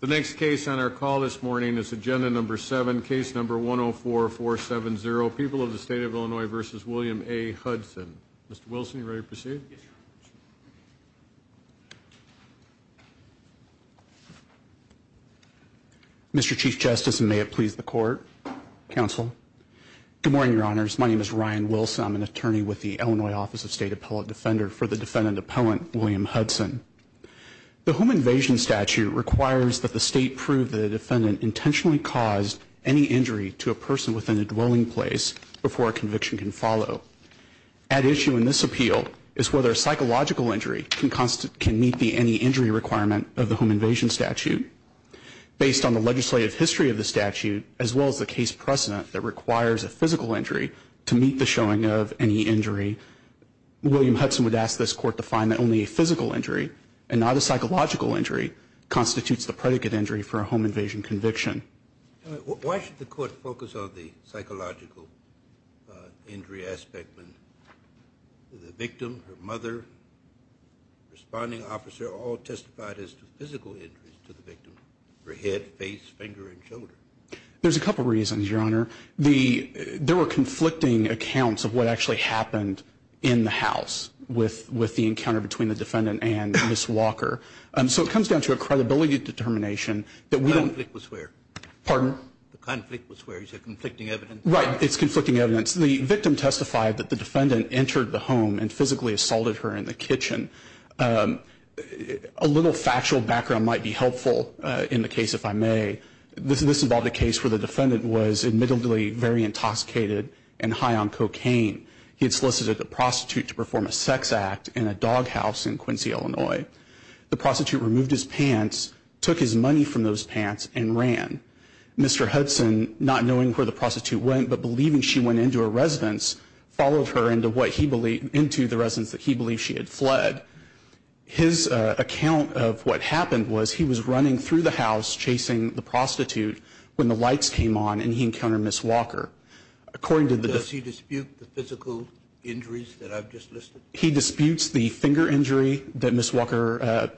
The next case on our call this morning is Agenda Number 7, Case Number 104-470, People of the State of Illinois v. William A. Hudson. Mr. Wilson, are you ready to proceed? Mr. Chief Justice, and may it please the Court, Counsel. Good morning, Your Honors. My name is Ryan Wilson. I'm an attorney with the Illinois Office of State Appellate Defender for the defendant appellant, William Hudson. The home invasion statute requires that the State prove that a defendant intentionally caused any injury to a person within a dwelling place before a conviction can follow. At issue in this appeal is whether a psychological injury can meet the any injury requirement of the home invasion statute. Based on the legislative history of the statute, as well as the case precedent that requires a physical injury to meet the showing of any injury, William Hudson would ask this Court to find that only a physical injury, and not a psychological injury, constitutes the predicate injury for a home invasion conviction. Why should the Court focus on the psychological injury aspect when the victim, her mother, responding officer, all testified as physical injuries to the victim, her head, face, finger, and shoulder? There's a couple reasons, Your Honor. There were conflicting accounts of what actually happened in the house with the encounter between the defendant and Ms. Walker. So it comes down to a credibility determination that we don't... The conflict was where? Pardon? The conflict was where? You said conflicting evidence? Right. It's conflicting evidence. The victim testified that the defendant entered the home and physically assaulted her in the kitchen. A little factual background might be helpful in the case, if I may. This involved a case where the defendant was admittedly very intoxicated and high on cocaine. He had solicited a prostitute to perform a sex act in a dog house in Quincy, Illinois. The prostitute removed his pants, took his money from those pants, and ran. Mr. Hudson, not knowing where the prostitute went, but believing she went into a residence, followed her into the residence that he believed she had fled. His account of what happened was he was running through the house chasing the prostitute when the lights came on and he encountered Ms. Walker. According to the... Does he dispute the physical injuries that I've just listed? He disputes the finger injury that Ms. Walker...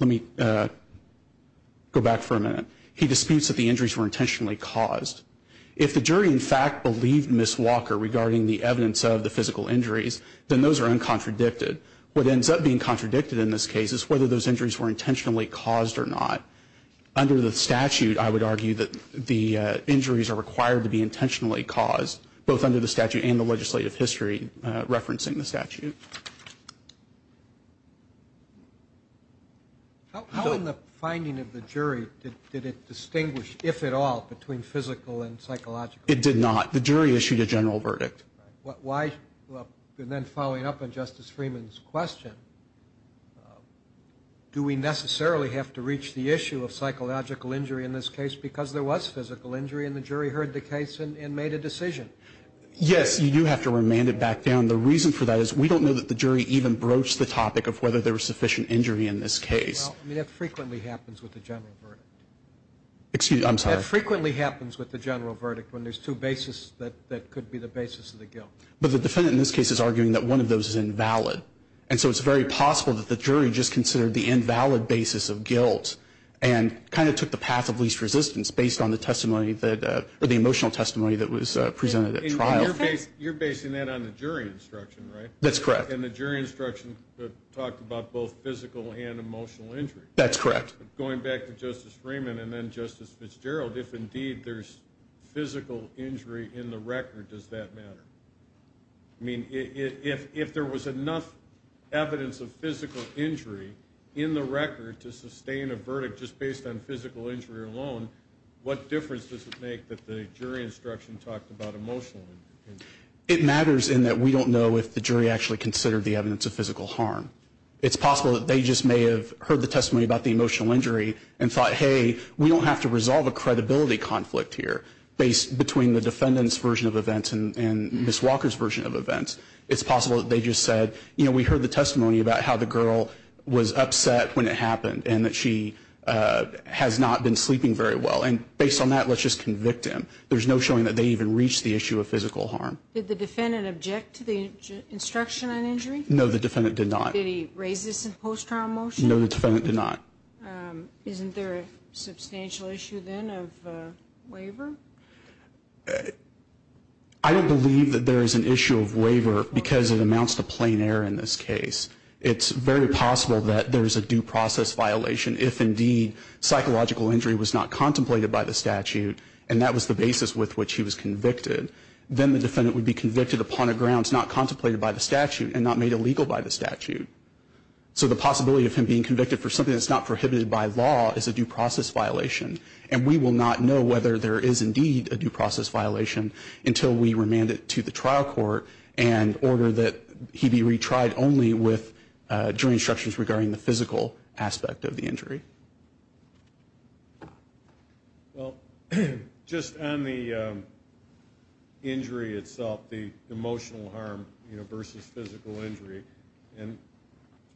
Let me go back for a minute. He disputes that the injuries were intentionally caused. If the jury, in fact, believed Ms. Walker regarding the evidence of the physical injuries, then those are uncontradicted. What ends up being contradicted in this case is whether those injuries were intentionally caused or not. Under the statute, I would argue that the injuries are required to be intentionally caused, both under the statute and the legislative history referencing the statute. How in the finding of the jury did it distinguish, if at all, between physical and psychological injuries? It did not. The jury issued a general verdict. Then following up on Justice Freeman's question, do we necessarily have to reach the issue of psychological injury in this case because there was physical injury and the jury heard the case and made a decision? Yes, you do have to remand it back down. The reason for that is we don't know that the jury even broached the topic of whether there was sufficient injury in this case. Well, I mean, that frequently happens with the general verdict. Excuse me, I'm sorry. That frequently happens with the general verdict when there's two bases that could be the basis of the guilt. But the defendant in this case is arguing that one of those is invalid, and so it's very possible that the jury just considered the invalid basis of guilt and kind of took the path of least resistance based on the emotional testimony that was presented at trial. You're basing that on the jury instruction, right? That's correct. And the jury instruction talked about both physical and emotional injury. That's correct. Going back to Justice Freeman and then Justice Fitzgerald, if indeed there's physical injury in the record, does that matter? I mean, if there was enough evidence of physical injury in the record to sustain a verdict just based on physical injury alone, what difference does it make that the jury instruction talked about emotional injury? It matters in that we don't know if the jury actually considered the evidence of physical harm. It's possible that they just may have heard the testimony about the emotional injury and thought, hey, we don't have to resolve a credibility conflict here between the defendant's version of events and Ms. Walker's version of events. It's possible that they just said, you know, we heard the testimony about how the girl was upset when it happened and that she has not been sleeping very well, and based on that, let's just convict him. There's no showing that they even reached the issue of physical harm. Did the defendant object to the instruction on injury? No, the defendant did not. Did he raise this in post-trial motion? No, the defendant did not. Isn't there a substantial issue then of waiver? I don't believe that there is an issue of waiver because it amounts to plain error in this case. It's very possible that there is a due process violation if indeed psychological injury was not contemplated by the statute and that was the basis with which he was convicted. Then the defendant would be convicted upon a grounds not contemplated by the statute and not made illegal by the statute. So the possibility of him being convicted for something that's not prohibited by law is a due process violation, and we will not know whether there is indeed a due process violation until we remand it to the trial court and order that he be retried only with jury instructions regarding the physical aspect of the injury. Well, just on the injury itself, the emotional harm versus physical injury, and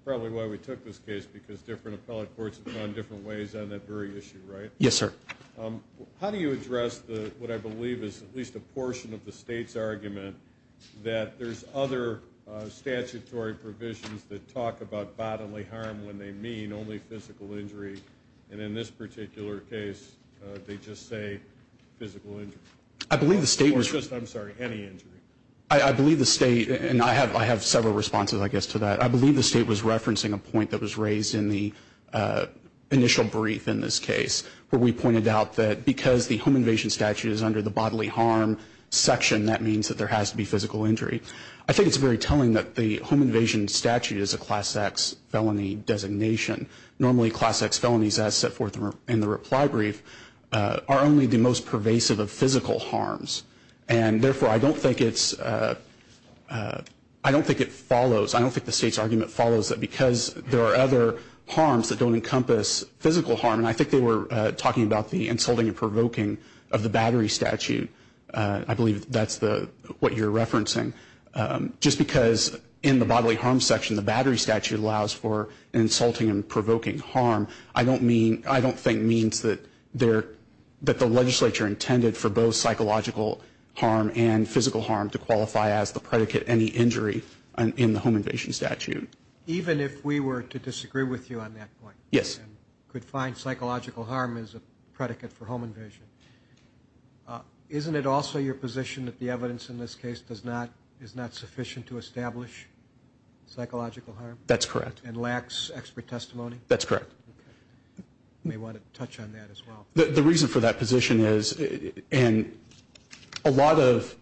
probably why we took this case because different appellate courts have gone different ways on that very issue, right? Yes, sir. How do you address what I believe is at least a portion of the state's argument that there's other statutory provisions that talk about bodily harm when they mean only physical injury, and in this particular case they just say physical injury? I believe the state was... Or just, I'm sorry, any injury. I believe the state, and I have several responses, I guess, to that. I believe the state was referencing a point that was raised in the initial brief in this case where we pointed out that because the home invasion statute is under the bodily harm section, that means that there has to be physical injury. I think it's very telling that the home invasion statute is a Class X felony designation. Normally Class X felonies, as set forth in the reply brief, are only the most pervasive of physical harms, and therefore I don't think it's... I don't think it follows, I don't think the state's argument follows that because there are other harms that don't encompass physical harm, and I think they were talking about the insulting and provoking of the battery statute. I believe that's what you're referencing. Just because in the bodily harm section the battery statute allows for insulting and provoking harm, I don't think means that the legislature intended for both psychological harm and physical harm to qualify as the predicate any injury in the home invasion statute. Even if we were to disagree with you on that point... Yes. ...and could find psychological harm as a predicate for home invasion, isn't it also your position that the evidence in this case is not sufficient to establish psychological harm? That's correct. And lacks expert testimony? That's correct. You may want to touch on that as well. The reason for that position is, and a lot of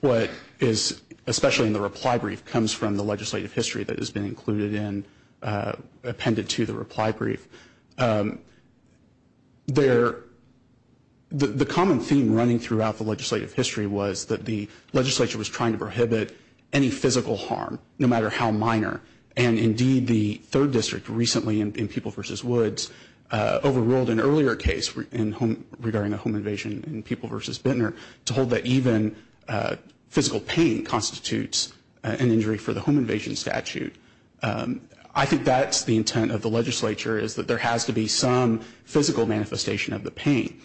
what is, especially in the reply brief, comes from the legislative history that has been included in, appended to the reply brief. The common theme running throughout the legislative history was that the legislature was trying to prohibit any physical harm, no matter how minor, and indeed the 3rd District recently in People v. Woods overruled an earlier case regarding a home invasion in People v. Bintner to hold that even physical pain constitutes an injury for the home invasion statute. I think that's the intent of the legislature, is that there has to be some physical manifestation of the pain.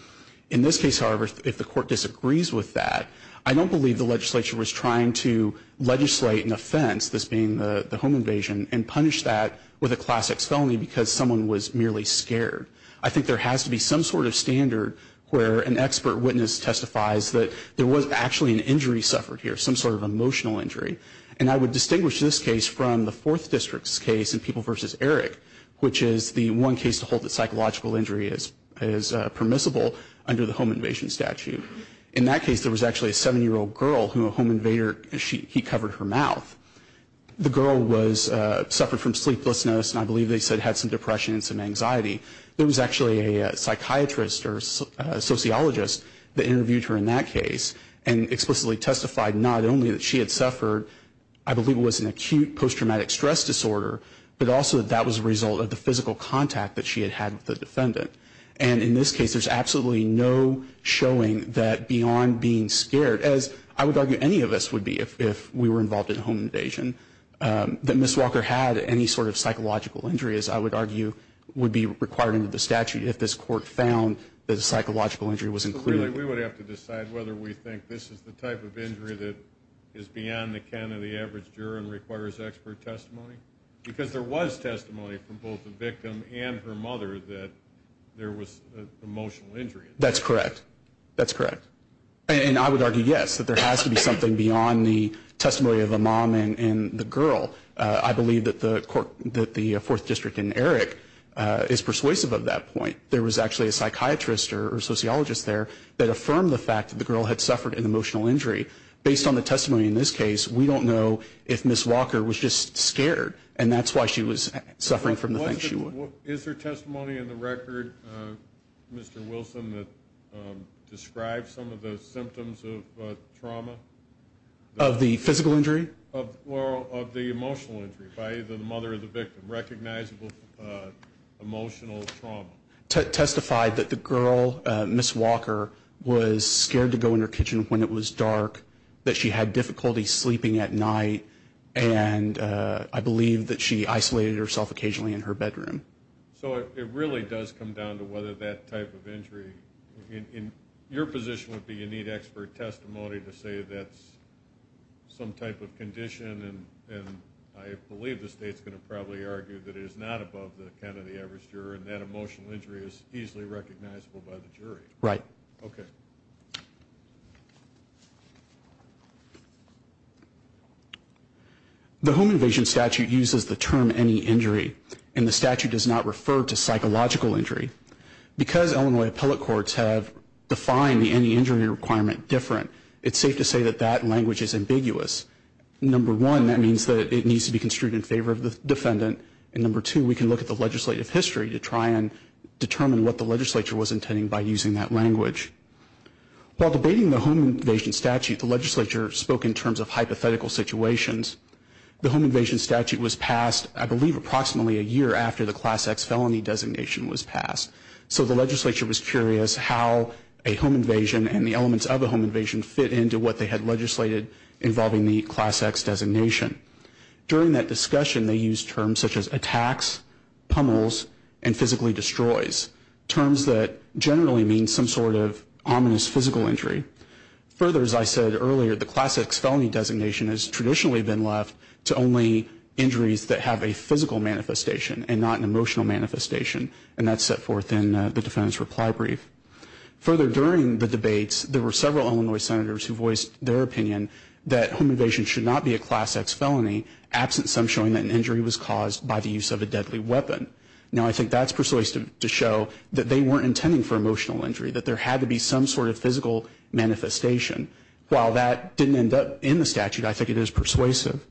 In this case, however, if the court disagrees with that, I don't believe the legislature was trying to legislate an offense, this being the home invasion, and punish that with a Class X felony because someone was merely scared. I think there has to be some sort of standard where an expert witness testifies that there was actually an injury suffered here, some sort of emotional injury. And I would distinguish this case from the 4th District's case in People v. Eric, which is the one case to hold that psychological injury is permissible under the home invasion statute. In that case, there was actually a 7-year-old girl who a home invader, he covered her mouth. The girl suffered from sleeplessness, and I believe they said had some depression and some anxiety. There was actually a psychiatrist or sociologist that interviewed her in that case and explicitly testified not only that she had suffered, I believe it was an acute post-traumatic stress disorder, but also that that was a result of the physical contact that she had had with the defendant. And in this case, there's absolutely no showing that beyond being scared, as I would argue any of us would be if we were involved in a home invasion, that Ms. Walker had any sort of psychological injury, as I would argue would be required under the statute if this court found that a psychological injury was included. So really we would have to decide whether we think this is the type of injury that is beyond the can of the average juror and requires expert testimony? Because there was testimony from both the victim and her mother that there was an emotional injury. That's correct. That's correct. And I would argue, yes, that there has to be something beyond the testimony of a mom and the girl. I believe that the Fourth District in Erick is persuasive of that point. There was actually a psychiatrist or sociologist there that affirmed the fact that the girl had suffered an emotional injury. Based on the testimony in this case, we don't know if Ms. Walker was just scared, and that's why she was suffering from the things she was. Is there testimony in the record, Mr. Wilson, that describes some of the symptoms of trauma? Of the physical injury? Well, of the emotional injury by either the mother or the victim, recognizable emotional trauma. Testified that the girl, Ms. Walker, was scared to go in her kitchen when it was dark, that she had difficulty sleeping at night, and I believe that she isolated herself occasionally in her bedroom. So it really does come down to whether that type of injury, and your position would be you need expert testimony to say that's some type of condition, and I believe the state's going to probably argue that it is not above the can of the average juror and that emotional injury is easily recognizable by the jury. Right. Okay. The home invasion statute uses the term any injury, and the statute does not refer to psychological injury. Because Illinois appellate courts have defined the any injury requirement different, it's safe to say that that language is ambiguous. Number one, that means that it needs to be construed in favor of the defendant, and number two, we can look at the legislative history to try and determine what the legislature was intending by using that language. While debating the home invasion statute, the legislature spoke in terms of hypothetical situations. The home invasion statute was passed, I believe, approximately a year after the Class X felony designation was passed. So the legislature was curious how a home invasion and the elements of a home invasion fit into what they had legislated involving the Class X designation. During that discussion, they used terms such as attacks, pummels, and physically destroys, terms that generally mean some sort of ominous physical injury. Further, as I said earlier, the Class X felony designation has traditionally been left to only injuries that have a physical manifestation and not an emotional manifestation, and that's set forth in the defendant's reply brief. Further, during the debates, there were several Illinois senators who voiced their opinion that home invasion should not be a Class X felony, absent some showing that an injury was caused by the use of a deadly weapon. Now, I think that's persuasive to show that they weren't intending for emotional injury, that there had to be some sort of physical manifestation. While that didn't end up in the statute, I think it is persuasive.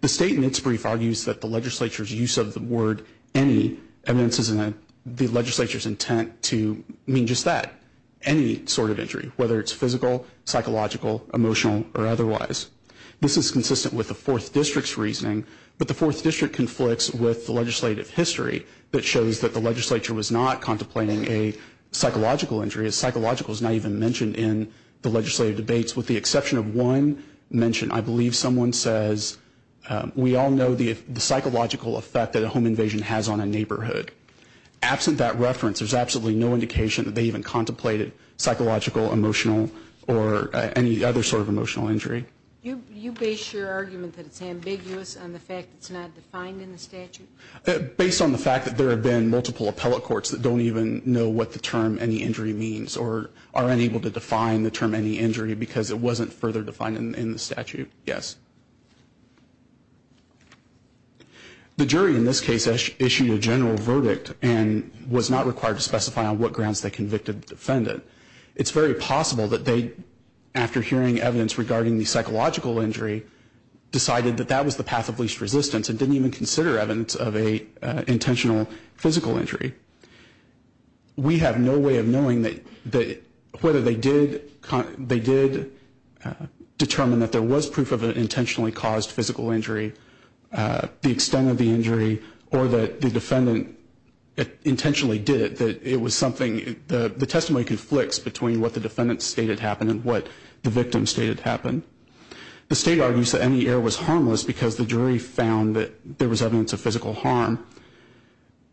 The statement's brief argues that the legislature's use of the word any evidences in the legislature's intent to mean just that, any sort of injury, whether it's physical, psychological, emotional, or otherwise. This is consistent with the Fourth District's reasoning, but the Fourth District conflicts with the legislative history that shows that the legislature was not contemplating a psychological injury. A psychological is not even mentioned in the legislative debates, with the exception of one mention. I believe someone says, we all know the psychological effect that a home invasion has on a neighborhood. Absent that reference, there's absolutely no indication that they even contemplated psychological, emotional, or any other sort of emotional injury. You base your argument that it's ambiguous on the fact that it's not defined in the statute? Based on the fact that there have been multiple appellate courts that don't even know what the term any injury means, or are unable to define the term any injury because it wasn't further defined in the statute, yes. The jury in this case issued a general verdict that it's very possible that they, after hearing evidence regarding the psychological injury, decided that that was the path of least resistance and didn't even consider evidence of an intentional physical injury. We have no way of knowing whether they did determine that there was proof of an intentionally caused physical injury, the extent of the injury, or that the defendant intentionally did it, that it was something, the testimony conflicts between what the defendant stated happened and what the victim stated happened. The state argues that any error was harmless because the jury found that there was evidence of physical harm.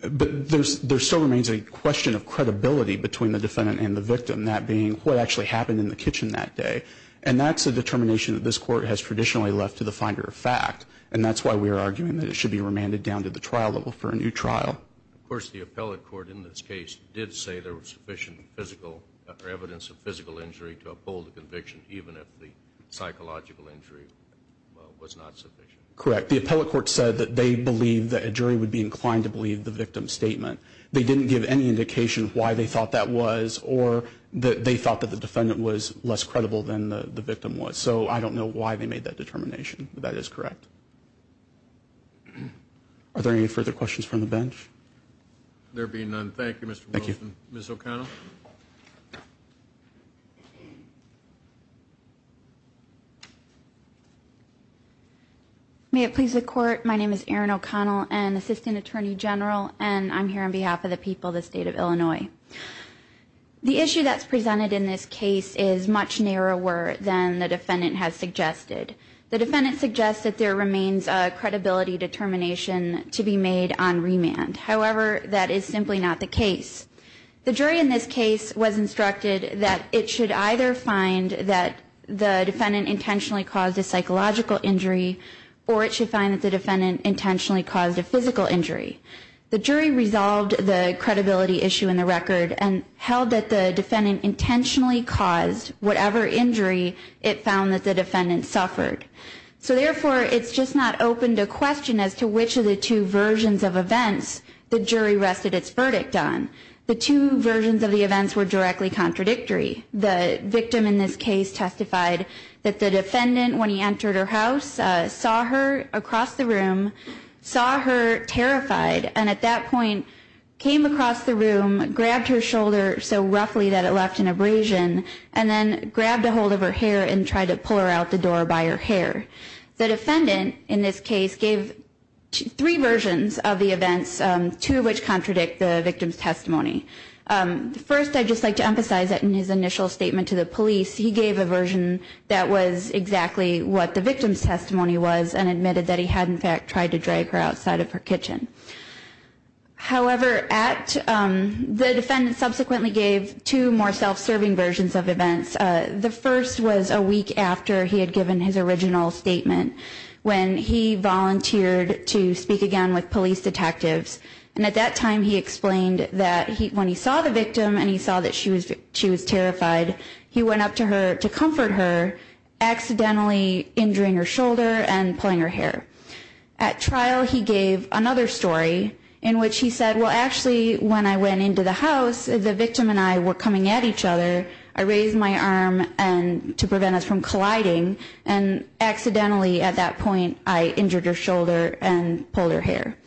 But there still remains a question of credibility between the defendant and the victim, that being what actually happened in the kitchen that day. And that's a determination that this court has traditionally left to the finder of fact. And that's why we are arguing that it should be remanded down to the trial level for a new trial. Of course, the appellate court in this case did say there was sufficient physical, or evidence of physical injury to uphold the conviction, even if the psychological injury was not sufficient. Correct. The appellate court said that they believed that a jury would be inclined to believe the victim's statement. They didn't give any indication of why they thought that was or that they thought that the defendant was less credible than the victim was. So I don't know why they made that determination. But that is correct. Are there any further questions from the bench? There being none, thank you, Mr. Wilson. Ms. O'Connell. May it please the Court, my name is Erin O'Connell, an assistant attorney general, and I'm here on behalf of the people of the state of Illinois. The issue that's presented in this case is much narrower than the defendant has suggested. The defendant suggests that there remains a credibility determination to be made on remand. However, that is simply not the case. The jury in this case was instructed that it should either find that the defendant intentionally caused a psychological injury, or it should find that the defendant intentionally caused a physical injury. The jury resolved the credibility issue in the record and held that the defendant intentionally caused whatever injury it found that the defendant suffered. So therefore, it's just not open to question as to which of the two versions of events the jury rested its verdict on. The two versions of the events were directly contradictory. The victim in this case testified that the defendant, when he entered her house, saw her across the room, saw her terrified, and at that point, came across the room, grabbed her shoulder so roughly that it left an abrasion, and then grabbed a hold of her hair and tried to pull her out the door by her hair. The defendant, in this case, gave three versions of the events, two of which contradict the victim's testimony. First, I'd just like to emphasize that in his initial statement to the police, he gave a version that was exactly what the victim's testimony was and admitted that he had, in fact, tried to drag her outside of her kitchen. However, the defendant subsequently gave two more self-serving versions of events. The first was a week after he had given his original statement, when he volunteered to speak again with police detectives. And at that time, he explained that when he saw the victim and he saw that she was terrified, he went up to her to comfort her, accidentally injuring her shoulder and pulling her hair. At trial, he gave another story in which he said, well, actually, when I went into the house, the victim and I were coming at each other. I raised my arm to prevent us from colliding, and accidentally, at that point, I injured her shoulder and pulled her hair.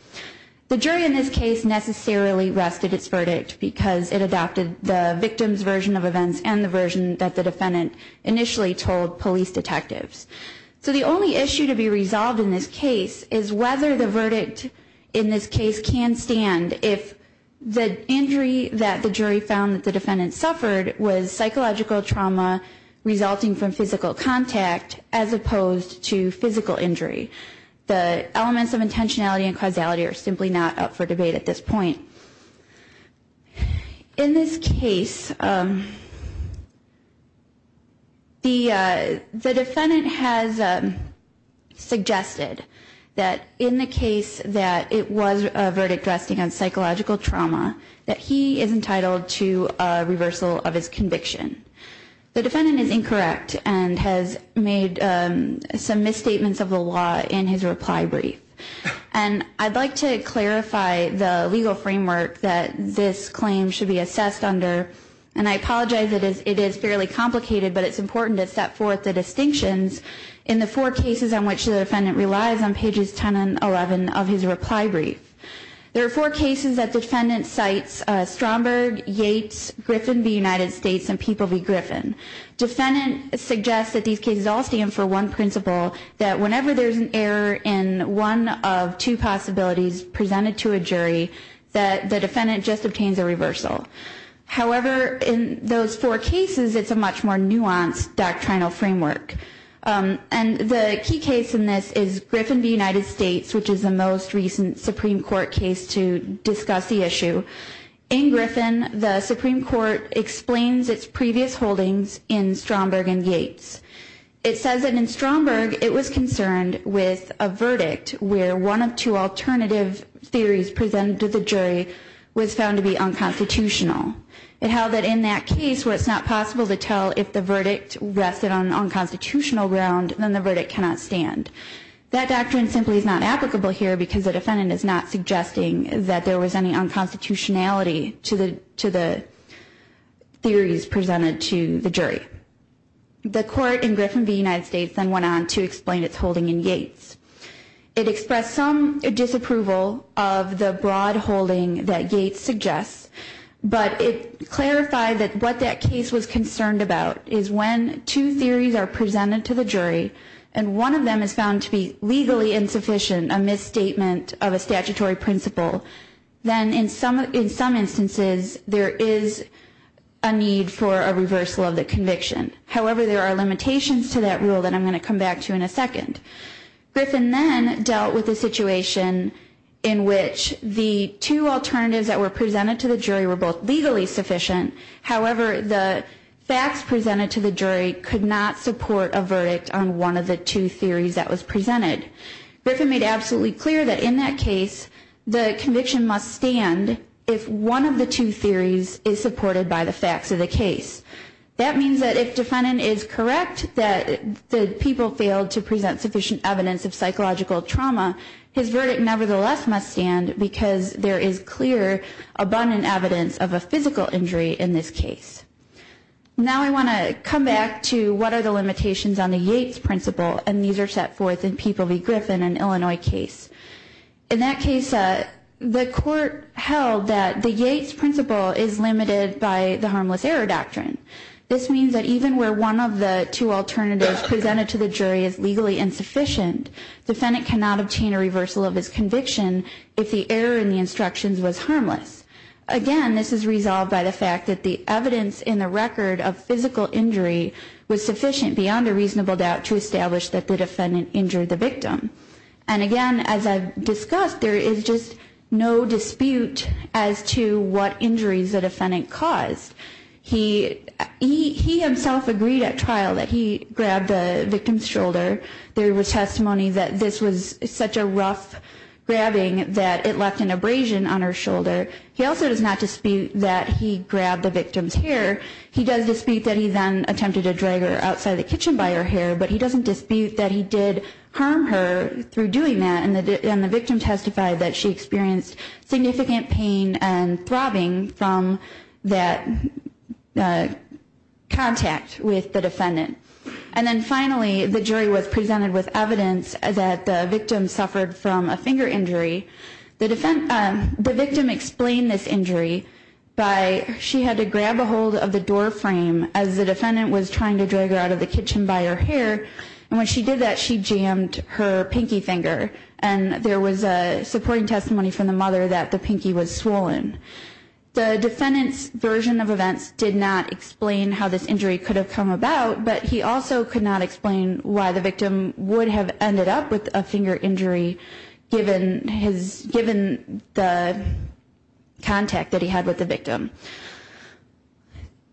The jury in this case necessarily rested its verdict because it adopted the victim's version of events and the version that the defendant initially told police detectives. So the only issue to be resolved in this case is whether the verdict in this case can stand if the injury that the jury found that the defendant suffered was psychological trauma resulting from physical contact as opposed to physical injury. The elements of intentionality and causality are simply not up for debate at this point. In this case, the defendant has suggested that in the case that it was a verdict resting on psychological trauma, that he is entitled to a reversal of his conviction. The defendant is incorrect and has made some misstatements of the law in his reply brief. And I'd like to clarify the legal framework that this claim should be assessed under, and I apologize that it is fairly complicated, but it's important to set forth the distinctions in the four cases on which the defendant relies on pages 10 and 11 of his reply brief. There are four cases that the defendant cites Stromberg, Yates, Griffin v. United States and Peeple v. Griffin. Defendant suggests that these cases all stand for one principle, that whenever there's an error in one of two possibilities presented to a jury, that the defendant just obtains a reversal. However, in those four cases, it's a much more nuanced doctrinal framework. And the key case in this is Griffin v. United States, which is the most recent Supreme Court case to discuss the issue. In Griffin, the Supreme Court explains its previous holdings in Stromberg and Yates. It says that in Stromberg, it was concerned with a verdict where one of two alternative theories presented to the jury was found to be unconstitutional. It held that in that case where it's not possible to tell if the verdict rested on unconstitutional ground, then the verdict cannot stand. That doctrine simply is not applicable here because the defendant is not suggesting that there was any unconstitutionality to the theories presented to the jury. The court in Griffin v. United States then went on to explain its holding in Yates. It expressed some disapproval of the broad holding that Yates suggests, but it clarified that what that case was concerned about is when two theories are presented to the jury and one of them is found to be legally insufficient, a misstatement of a statutory principle, then in some instances there is a need for a reversal of the conviction. However, there are limitations to that rule that I'm going to come back to in a second. Griffin then dealt with a situation in which the two alternatives that were presented to the jury were both legally sufficient. However, the facts presented to the jury could not support a verdict on one of the two theories that was presented. Griffin made absolutely clear that in that case the conviction must stand if one of the two theories is supported by the facts of the case. That means that if the defendant is correct that the people failed to present sufficient evidence of psychological trauma, his verdict nevertheless must stand because there is clear abundant evidence of a physical injury in this case. Now I want to come back to what are the limitations on the Yates principle, and these are set forth in Peeple v. Griffin, an Illinois case. In that case, the court held that the Yates principle is limited by the harmless error doctrine. This means that even where one of the two alternatives presented to the jury is legally insufficient, the defendant cannot obtain a reversal of his conviction if the error in the instructions was harmless. Again, this is resolved by the fact that the evidence in the record of physical injury was sufficient beyond a reasonable doubt to establish that the defendant injured the victim. And again, as I've discussed, there is just no dispute as to what injuries the defendant caused. He himself agreed at trial that he grabbed the victim's shoulder. There was testimony that this was such a rough grabbing that it left an abrasion on her shoulder. He also does not dispute that he grabbed the victim's hair. He does dispute that he then attempted to drag her outside the kitchen by her hair, but he doesn't dispute that he did harm her through doing that, and the victim testified that she experienced significant pain and throbbing from that contact with the defendant. And then finally, the jury was presented with evidence that the victim suffered from a finger injury. The victim explained this injury by she had to grab a hold of the door frame as the defendant was trying to drag her out of the kitchen by her hair, and when she did that, she jammed her pinky finger, and there was a supporting testimony from the mother that the pinky was swollen. The defendant's version of events did not explain how this injury could have come about, but he also could not explain why the victim would have ended up with a finger injury given the contact that he had with the victim.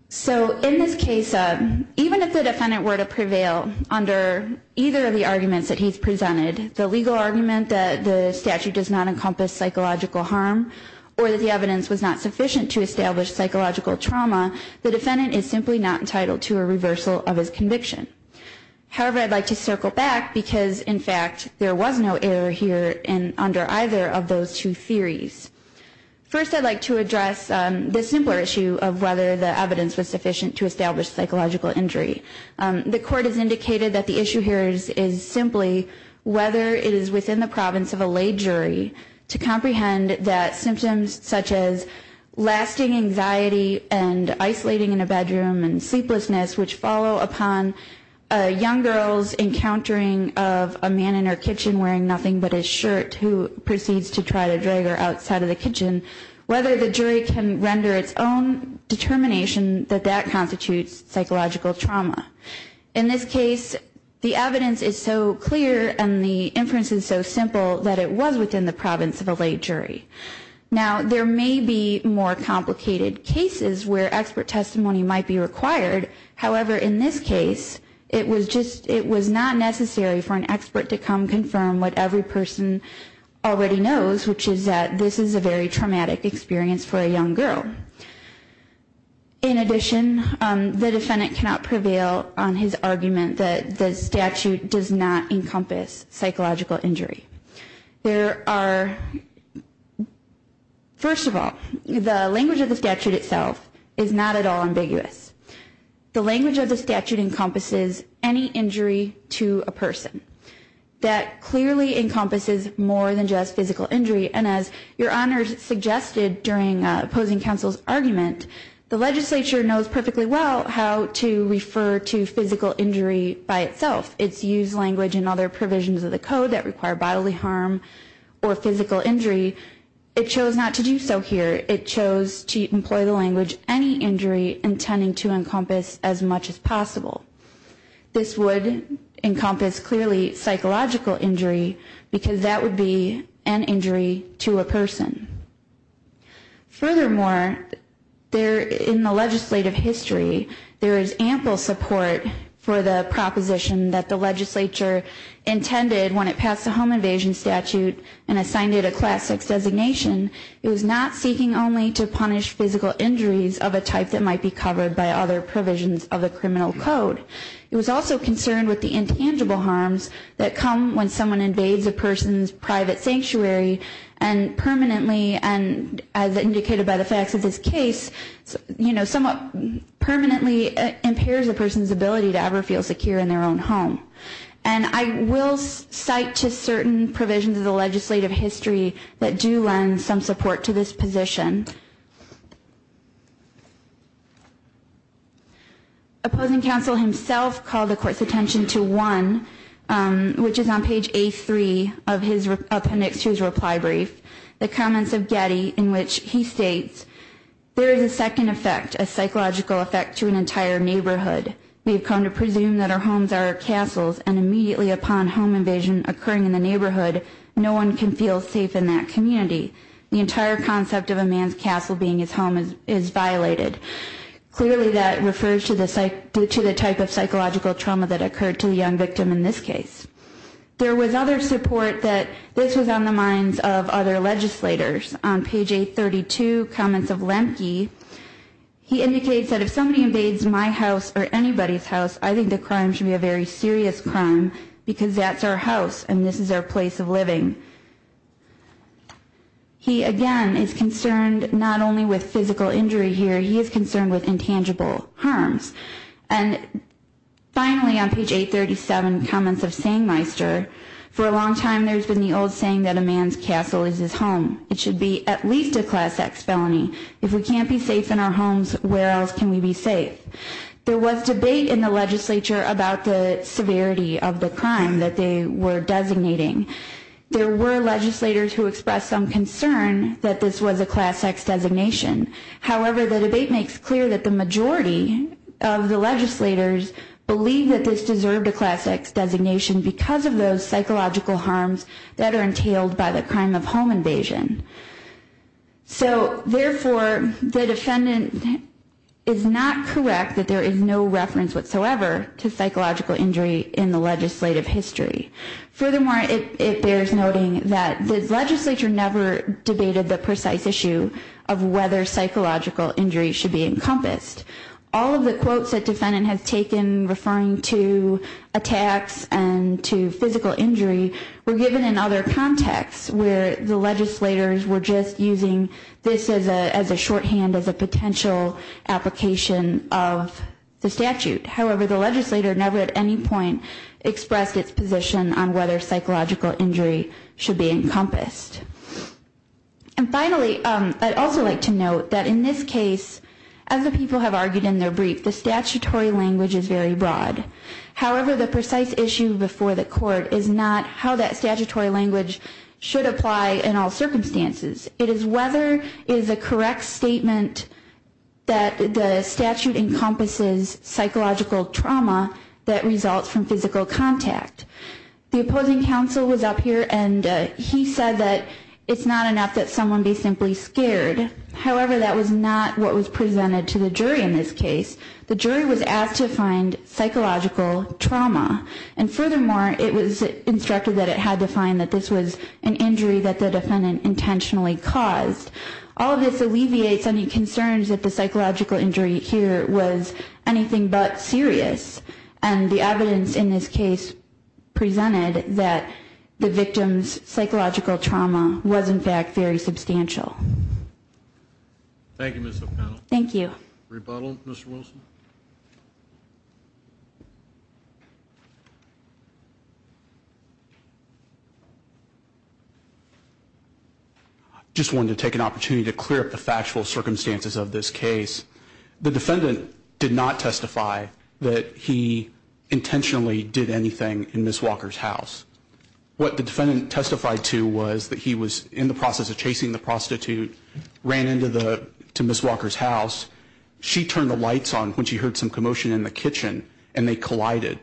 So in this case, even if the defendant were to prevail under either of the arguments that he's presented, the legal argument that the statute does not encompass psychological harm or that the evidence was not sufficient to establish psychological trauma, the defendant is simply not entitled to a reversal of his conviction. However, I'd like to circle back because, in fact, there was no error here under either of those two theories. First, I'd like to address the simpler issue of whether the evidence was sufficient to establish psychological injury. The court has indicated that the issue here is simply whether it is within the province of a lay jury to comprehend that symptoms such as lasting anxiety and isolating in a bedroom and sleeplessness, which follow upon a young girl's encountering of a man in her kitchen wearing nothing but his shirt who proceeds to try to drag her outside of the kitchen, whether the jury can render its own determination that that constitutes psychological trauma. In this case, the evidence is so clear and the inference is so simple that it was within the province of a lay jury. Now, there may be more complicated cases where expert testimony might be required. However, in this case, it was not necessary for an expert to come confirm what every person already knows, which is that this is a very traumatic experience for a young girl. In addition, the defendant cannot prevail on his argument that the statute does not encompass psychological injury. First of all, the language of the statute itself is not at all ambiguous. The language of the statute encompasses any injury to a person. That clearly encompasses more than just physical injury, and as Your Honor suggested during opposing counsel's argument, the legislature knows perfectly well how to refer to physical injury by itself. It's used language in other provisions of the code that require bodily harm or physical injury. It chose not to do so here. It chose to employ the language any injury intending to encompass as much as possible. This would encompass clearly psychological injury because that would be an injury to a person. Furthermore, in the legislative history, there is ample support for the proposition that the legislature intended when it passed the home invasion statute and assigned it a class 6 designation. It was not seeking only to punish physical injuries of a type that might be covered by other provisions of the criminal code. It was also concerned with the intangible harms that come when someone invades a person's private sanctuary and permanently, as indicated by the facts of this case, somewhat permanently impairs a person's ability to ever feel secure in their own home. And I will cite to certain provisions of the legislative history that do lend some support to this position. Opposing counsel himself called the court's attention to one, which is on page A3 of the next year's reply brief, the comments of Getty in which he states, There is a second effect, a psychological effect to an entire neighborhood. We have come to presume that our homes are castles and immediately upon home invasion occurring in the neighborhood, no one can feel safe in that community. The entire concept of a man's castle being his home is violated. Clearly that refers to the type of psychological trauma that occurred to the young victim in this case. There was other support that this was on the minds of other legislators. On page 832, comments of Lemke, he indicates that if somebody invades my house or anybody's house, I think the crime should be a very serious crime because that's our house and this is our place of living. He again is concerned not only with physical injury here, he is concerned with intangible harms. And finally on page 837, comments of Sangmeister, For a long time there's been the old saying that a man's castle is his home. It should be at least a class X felony. If we can't be safe in our homes, where else can we be safe? There was debate in the legislature about the severity of the crime that they were designating. There were legislators who expressed some concern that this was a class X designation. However, the debate makes clear that the majority of the legislators believe that this deserved a class X designation because of those psychological harms that are entailed by the crime of home invasion. So therefore, the defendant is not correct that there is no reference whatsoever to psychological injury in the legislative history. Furthermore, it bears noting that the legislature never debated the precise issue of whether psychological injury should be encompassed. All of the quotes that the defendant has taken referring to attacks and to physical injury were given in other contexts where the legislators were just using this as a shorthand, as a potential application of the statute. However, the legislator never at any point expressed its position on whether psychological injury should be encompassed. And finally, I'd also like to note that in this case, as the people have argued in their brief, the statutory language is very broad. However, the precise issue before the court is not how that statutory language should apply in all circumstances. It is whether it is a correct statement that the statute encompasses psychological trauma that results from physical contact. The opposing counsel was up here and he said that it's not enough that someone be simply scared. However, that was not what was presented to the jury in this case. The jury was asked to find psychological trauma. And furthermore, it was instructed that it had to find that this was an injury that the defendant intentionally caused. All of this alleviates any concerns that the psychological injury here was anything but serious. And the evidence in this case presented that the victim's psychological trauma was in fact very substantial. Thank you, Ms. O'Connell. Thank you. Rebuttal, Mr. Wilson. I just wanted to take an opportunity to clear up the factual circumstances of this case. The defendant did not testify that he intentionally did anything in Ms. Walker's house. What the defendant testified to was that he was in the process of chasing the prostitute, ran into Ms. Walker's house. She turned the lights on when she heard some commotion in the kitchen and they collided.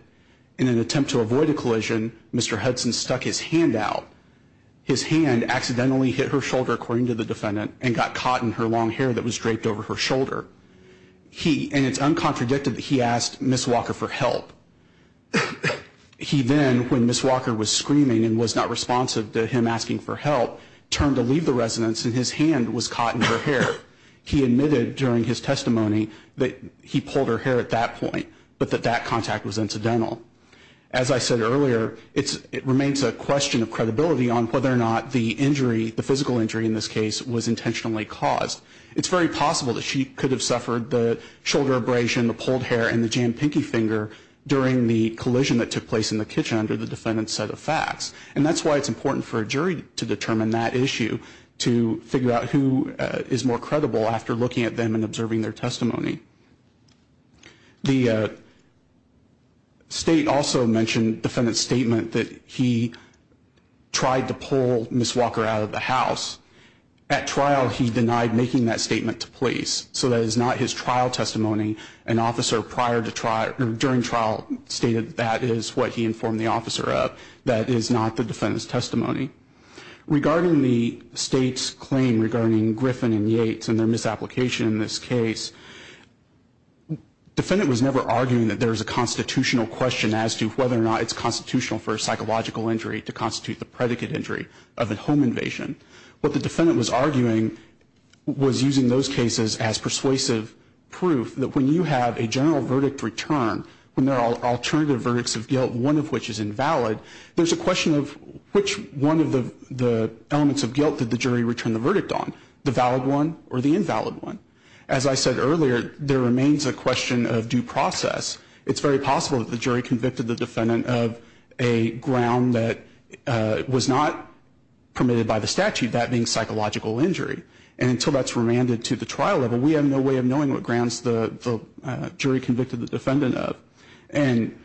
In an attempt to avoid a collision, Mr. Hudson stuck his hand out. His hand accidentally hit her shoulder, according to the defendant, and got caught in her long hair that was draped over her shoulder. And it's uncontradicted that he asked Ms. Walker for help. He then, when Ms. Walker was screaming and was not responsive to him asking for help, turned to leave the residence and his hand was caught in her hair. He admitted during his testimony that he pulled her hair at that point, but that that contact was incidental. As I said earlier, it remains a question of credibility on whether or not the injury, the physical injury in this case, was intentionally caused. It's very possible that she could have suffered the shoulder abrasion, the pulled hair, and the jammed pinky finger during the collision that took place in the kitchen under the defendant's set of facts. And that's why it's important for a jury to determine that issue, to figure out who is more credible after looking at them and observing their testimony. The state also mentioned the defendant's statement that he tried to pull Ms. Walker out of the house. At trial, he denied making that statement to police. So that is not his trial testimony. An officer prior to trial, during trial, stated that is what he informed the officer of. That is not the defendant's testimony. Regarding the state's claim regarding Griffin and Yates and their misapplication in this case, the defendant was never arguing that there is a constitutional question as to whether or not it's constitutional for a psychological injury to constitute the predicate injury of a home invasion. What the defendant was arguing was using those cases as persuasive proof that when you have a general verdict return, when there are alternative verdicts of guilt, one of which is invalid, there's a question of which one of the elements of guilt did the jury return the verdict on, the valid one or the invalid one. As I said earlier, there remains a question of due process. It's very possible that the jury convicted the defendant of a ground that was not permitted by the statute, which is a psychological injury. And until that's remanded to the trial level, we have no way of knowing what grounds the jury convicted the defendant of. And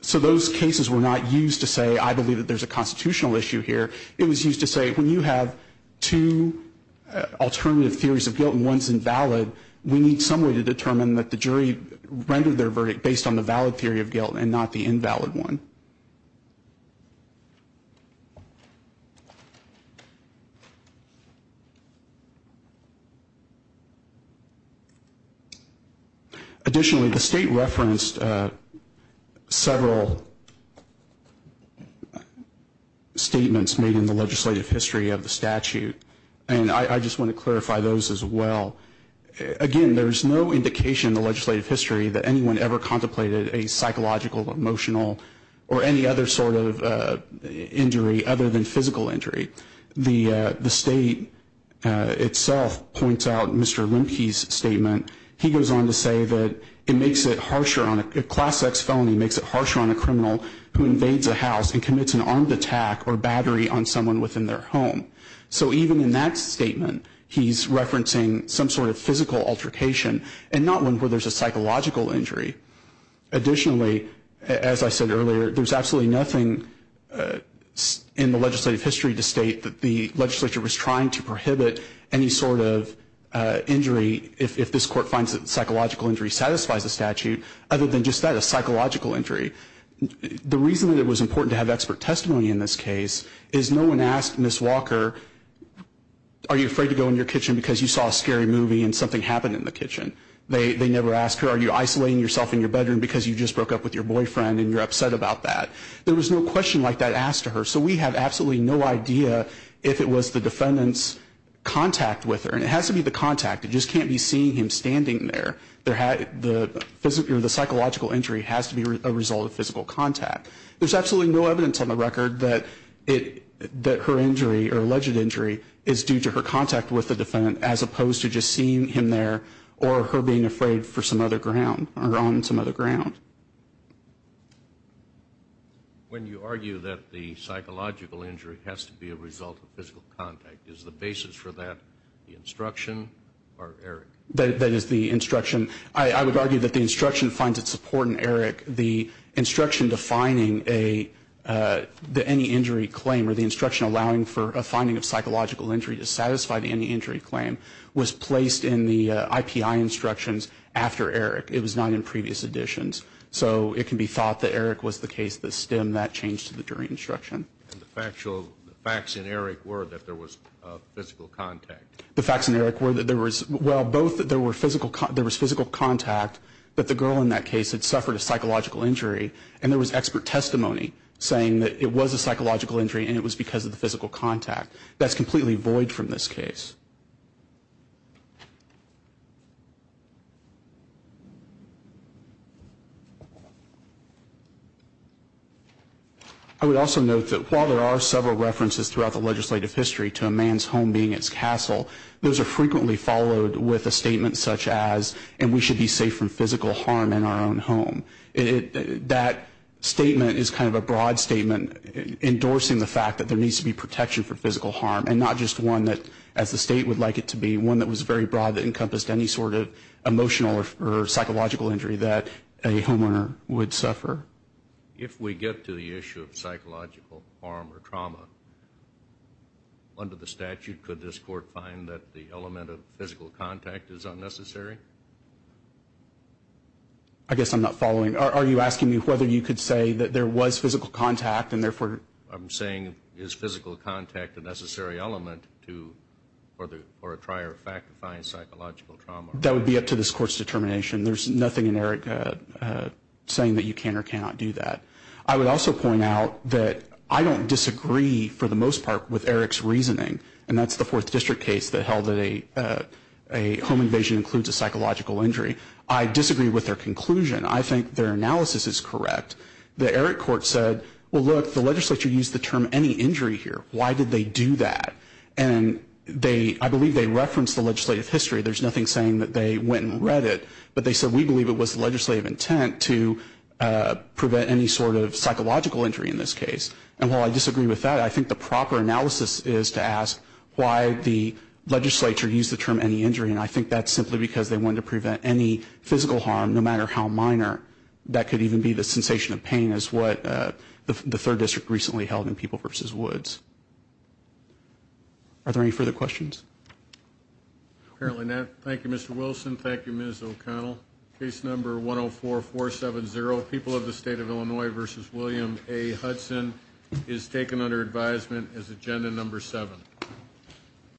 so those cases were not used to say, I believe that there's a constitutional issue here. It was used to say, when you have two alternative theories of guilt and one's invalid, we need some way to determine that the jury rendered their verdict based on the valid theory of guilt and not the invalid one. Additionally, the state referenced several statements made in the legislative history of the statute. And I just want to clarify those as well. Again, there's no indication in the legislative history that anyone ever contemplated a psychological, emotional, or any other sort of injury other than physical injury. The state itself points out Mr. Lemke's statement. He goes on to say that a Class X felony makes it harsher on a criminal who invades a house and commits an armed attack or battery on someone within their home. So even in that statement, he's referencing some sort of physical altercation and not one where there's a psychological injury. Additionally, as I said earlier, there's absolutely nothing in the legislative history to state that the legislature was trying to prohibit any sort of injury if this court finds that psychological injury satisfies the statute other than just that, a psychological injury. The reason that it was important to have expert testimony in this case is no one asked Ms. Walker, are you afraid to go in your kitchen because you saw a scary movie and something happened in the kitchen? They never asked her, are you isolating yourself in your bedroom because you just broke up with your boyfriend and you're upset about that? There was no question like that asked to her. So we have absolutely no idea if it was the defendant's contact with her. And it has to be the contact. It just can't be seeing him standing there. The psychological injury has to be a result of physical contact. There's absolutely no evidence on the record that her injury or alleged injury is due to her contact with the defendant as opposed to just seeing him there or her being afraid for some other ground or on some other ground. When you argue that the psychological injury has to be a result of physical contact, is the basis for that the instruction or Eric? That is the instruction. I would argue that the instruction finds its support in Eric. The instruction defining the any injury claim or the instruction allowing for a finding of psychological injury to satisfy the any injury claim was placed in the IPI instructions after Eric. It was not in previous editions. So it can be thought that Eric was the case that stemmed that change to the jury instruction. And the factual, the facts in Eric were that there was physical contact? The facts in Eric were that there was, well, both there was physical contact that the girl in that case had suffered a psychological injury and there was expert testimony saying that it was a psychological injury and it was because of the physical contact. That is completely void from this case. I would also note that while there are several references throughout the legislative history to a man's home being its castle, those are frequently followed with a statement such as and we should be safe from physical harm in our own home. That statement is kind of a broad statement endorsing the fact that there needs to be protection for physical harm and not just one that, as the state would like it to be, one that was very broad that encompassed any sort of emotional or psychological injury that a homeowner would suffer. If we get to the issue of psychological harm or trauma, under the statute, could this court find that the element of physical contact is unnecessary? I guess I'm not following. Are you asking me whether you could say that there was physical contact and therefore I'm saying is physical contact a necessary element for a trier of fact to find psychological trauma? That would be up to this court's determination. There's nothing in Eric saying that you can or cannot do that. I would also point out that I don't disagree for the most part with Eric's reasoning and that's the Fourth District case that held that a home invasion includes a psychological injury. I disagree with their conclusion. I think their analysis is correct. The Eric court said, well, look, the legislature used the term any injury here. Why did they do that? And they, I believe they referenced the legislative history. There's nothing saying that they went and read it, but they said we believe it was the legislative intent to prevent any sort of psychological injury in this case. And while I disagree with that, I think the proper analysis is to ask why the legislature used the term any injury, and I think that's simply because they wanted to prevent any physical harm, no matter how minor. That could even be the sensation of pain is what the Third District recently held in People v. Woods. Are there any further questions? Apparently not. Thank you, Mr. Wilson. Thank you, Ms. O'Connell. Case number 104-470, People of the State of Illinois v. William A. Hudson is taken under advisement as agenda number seven.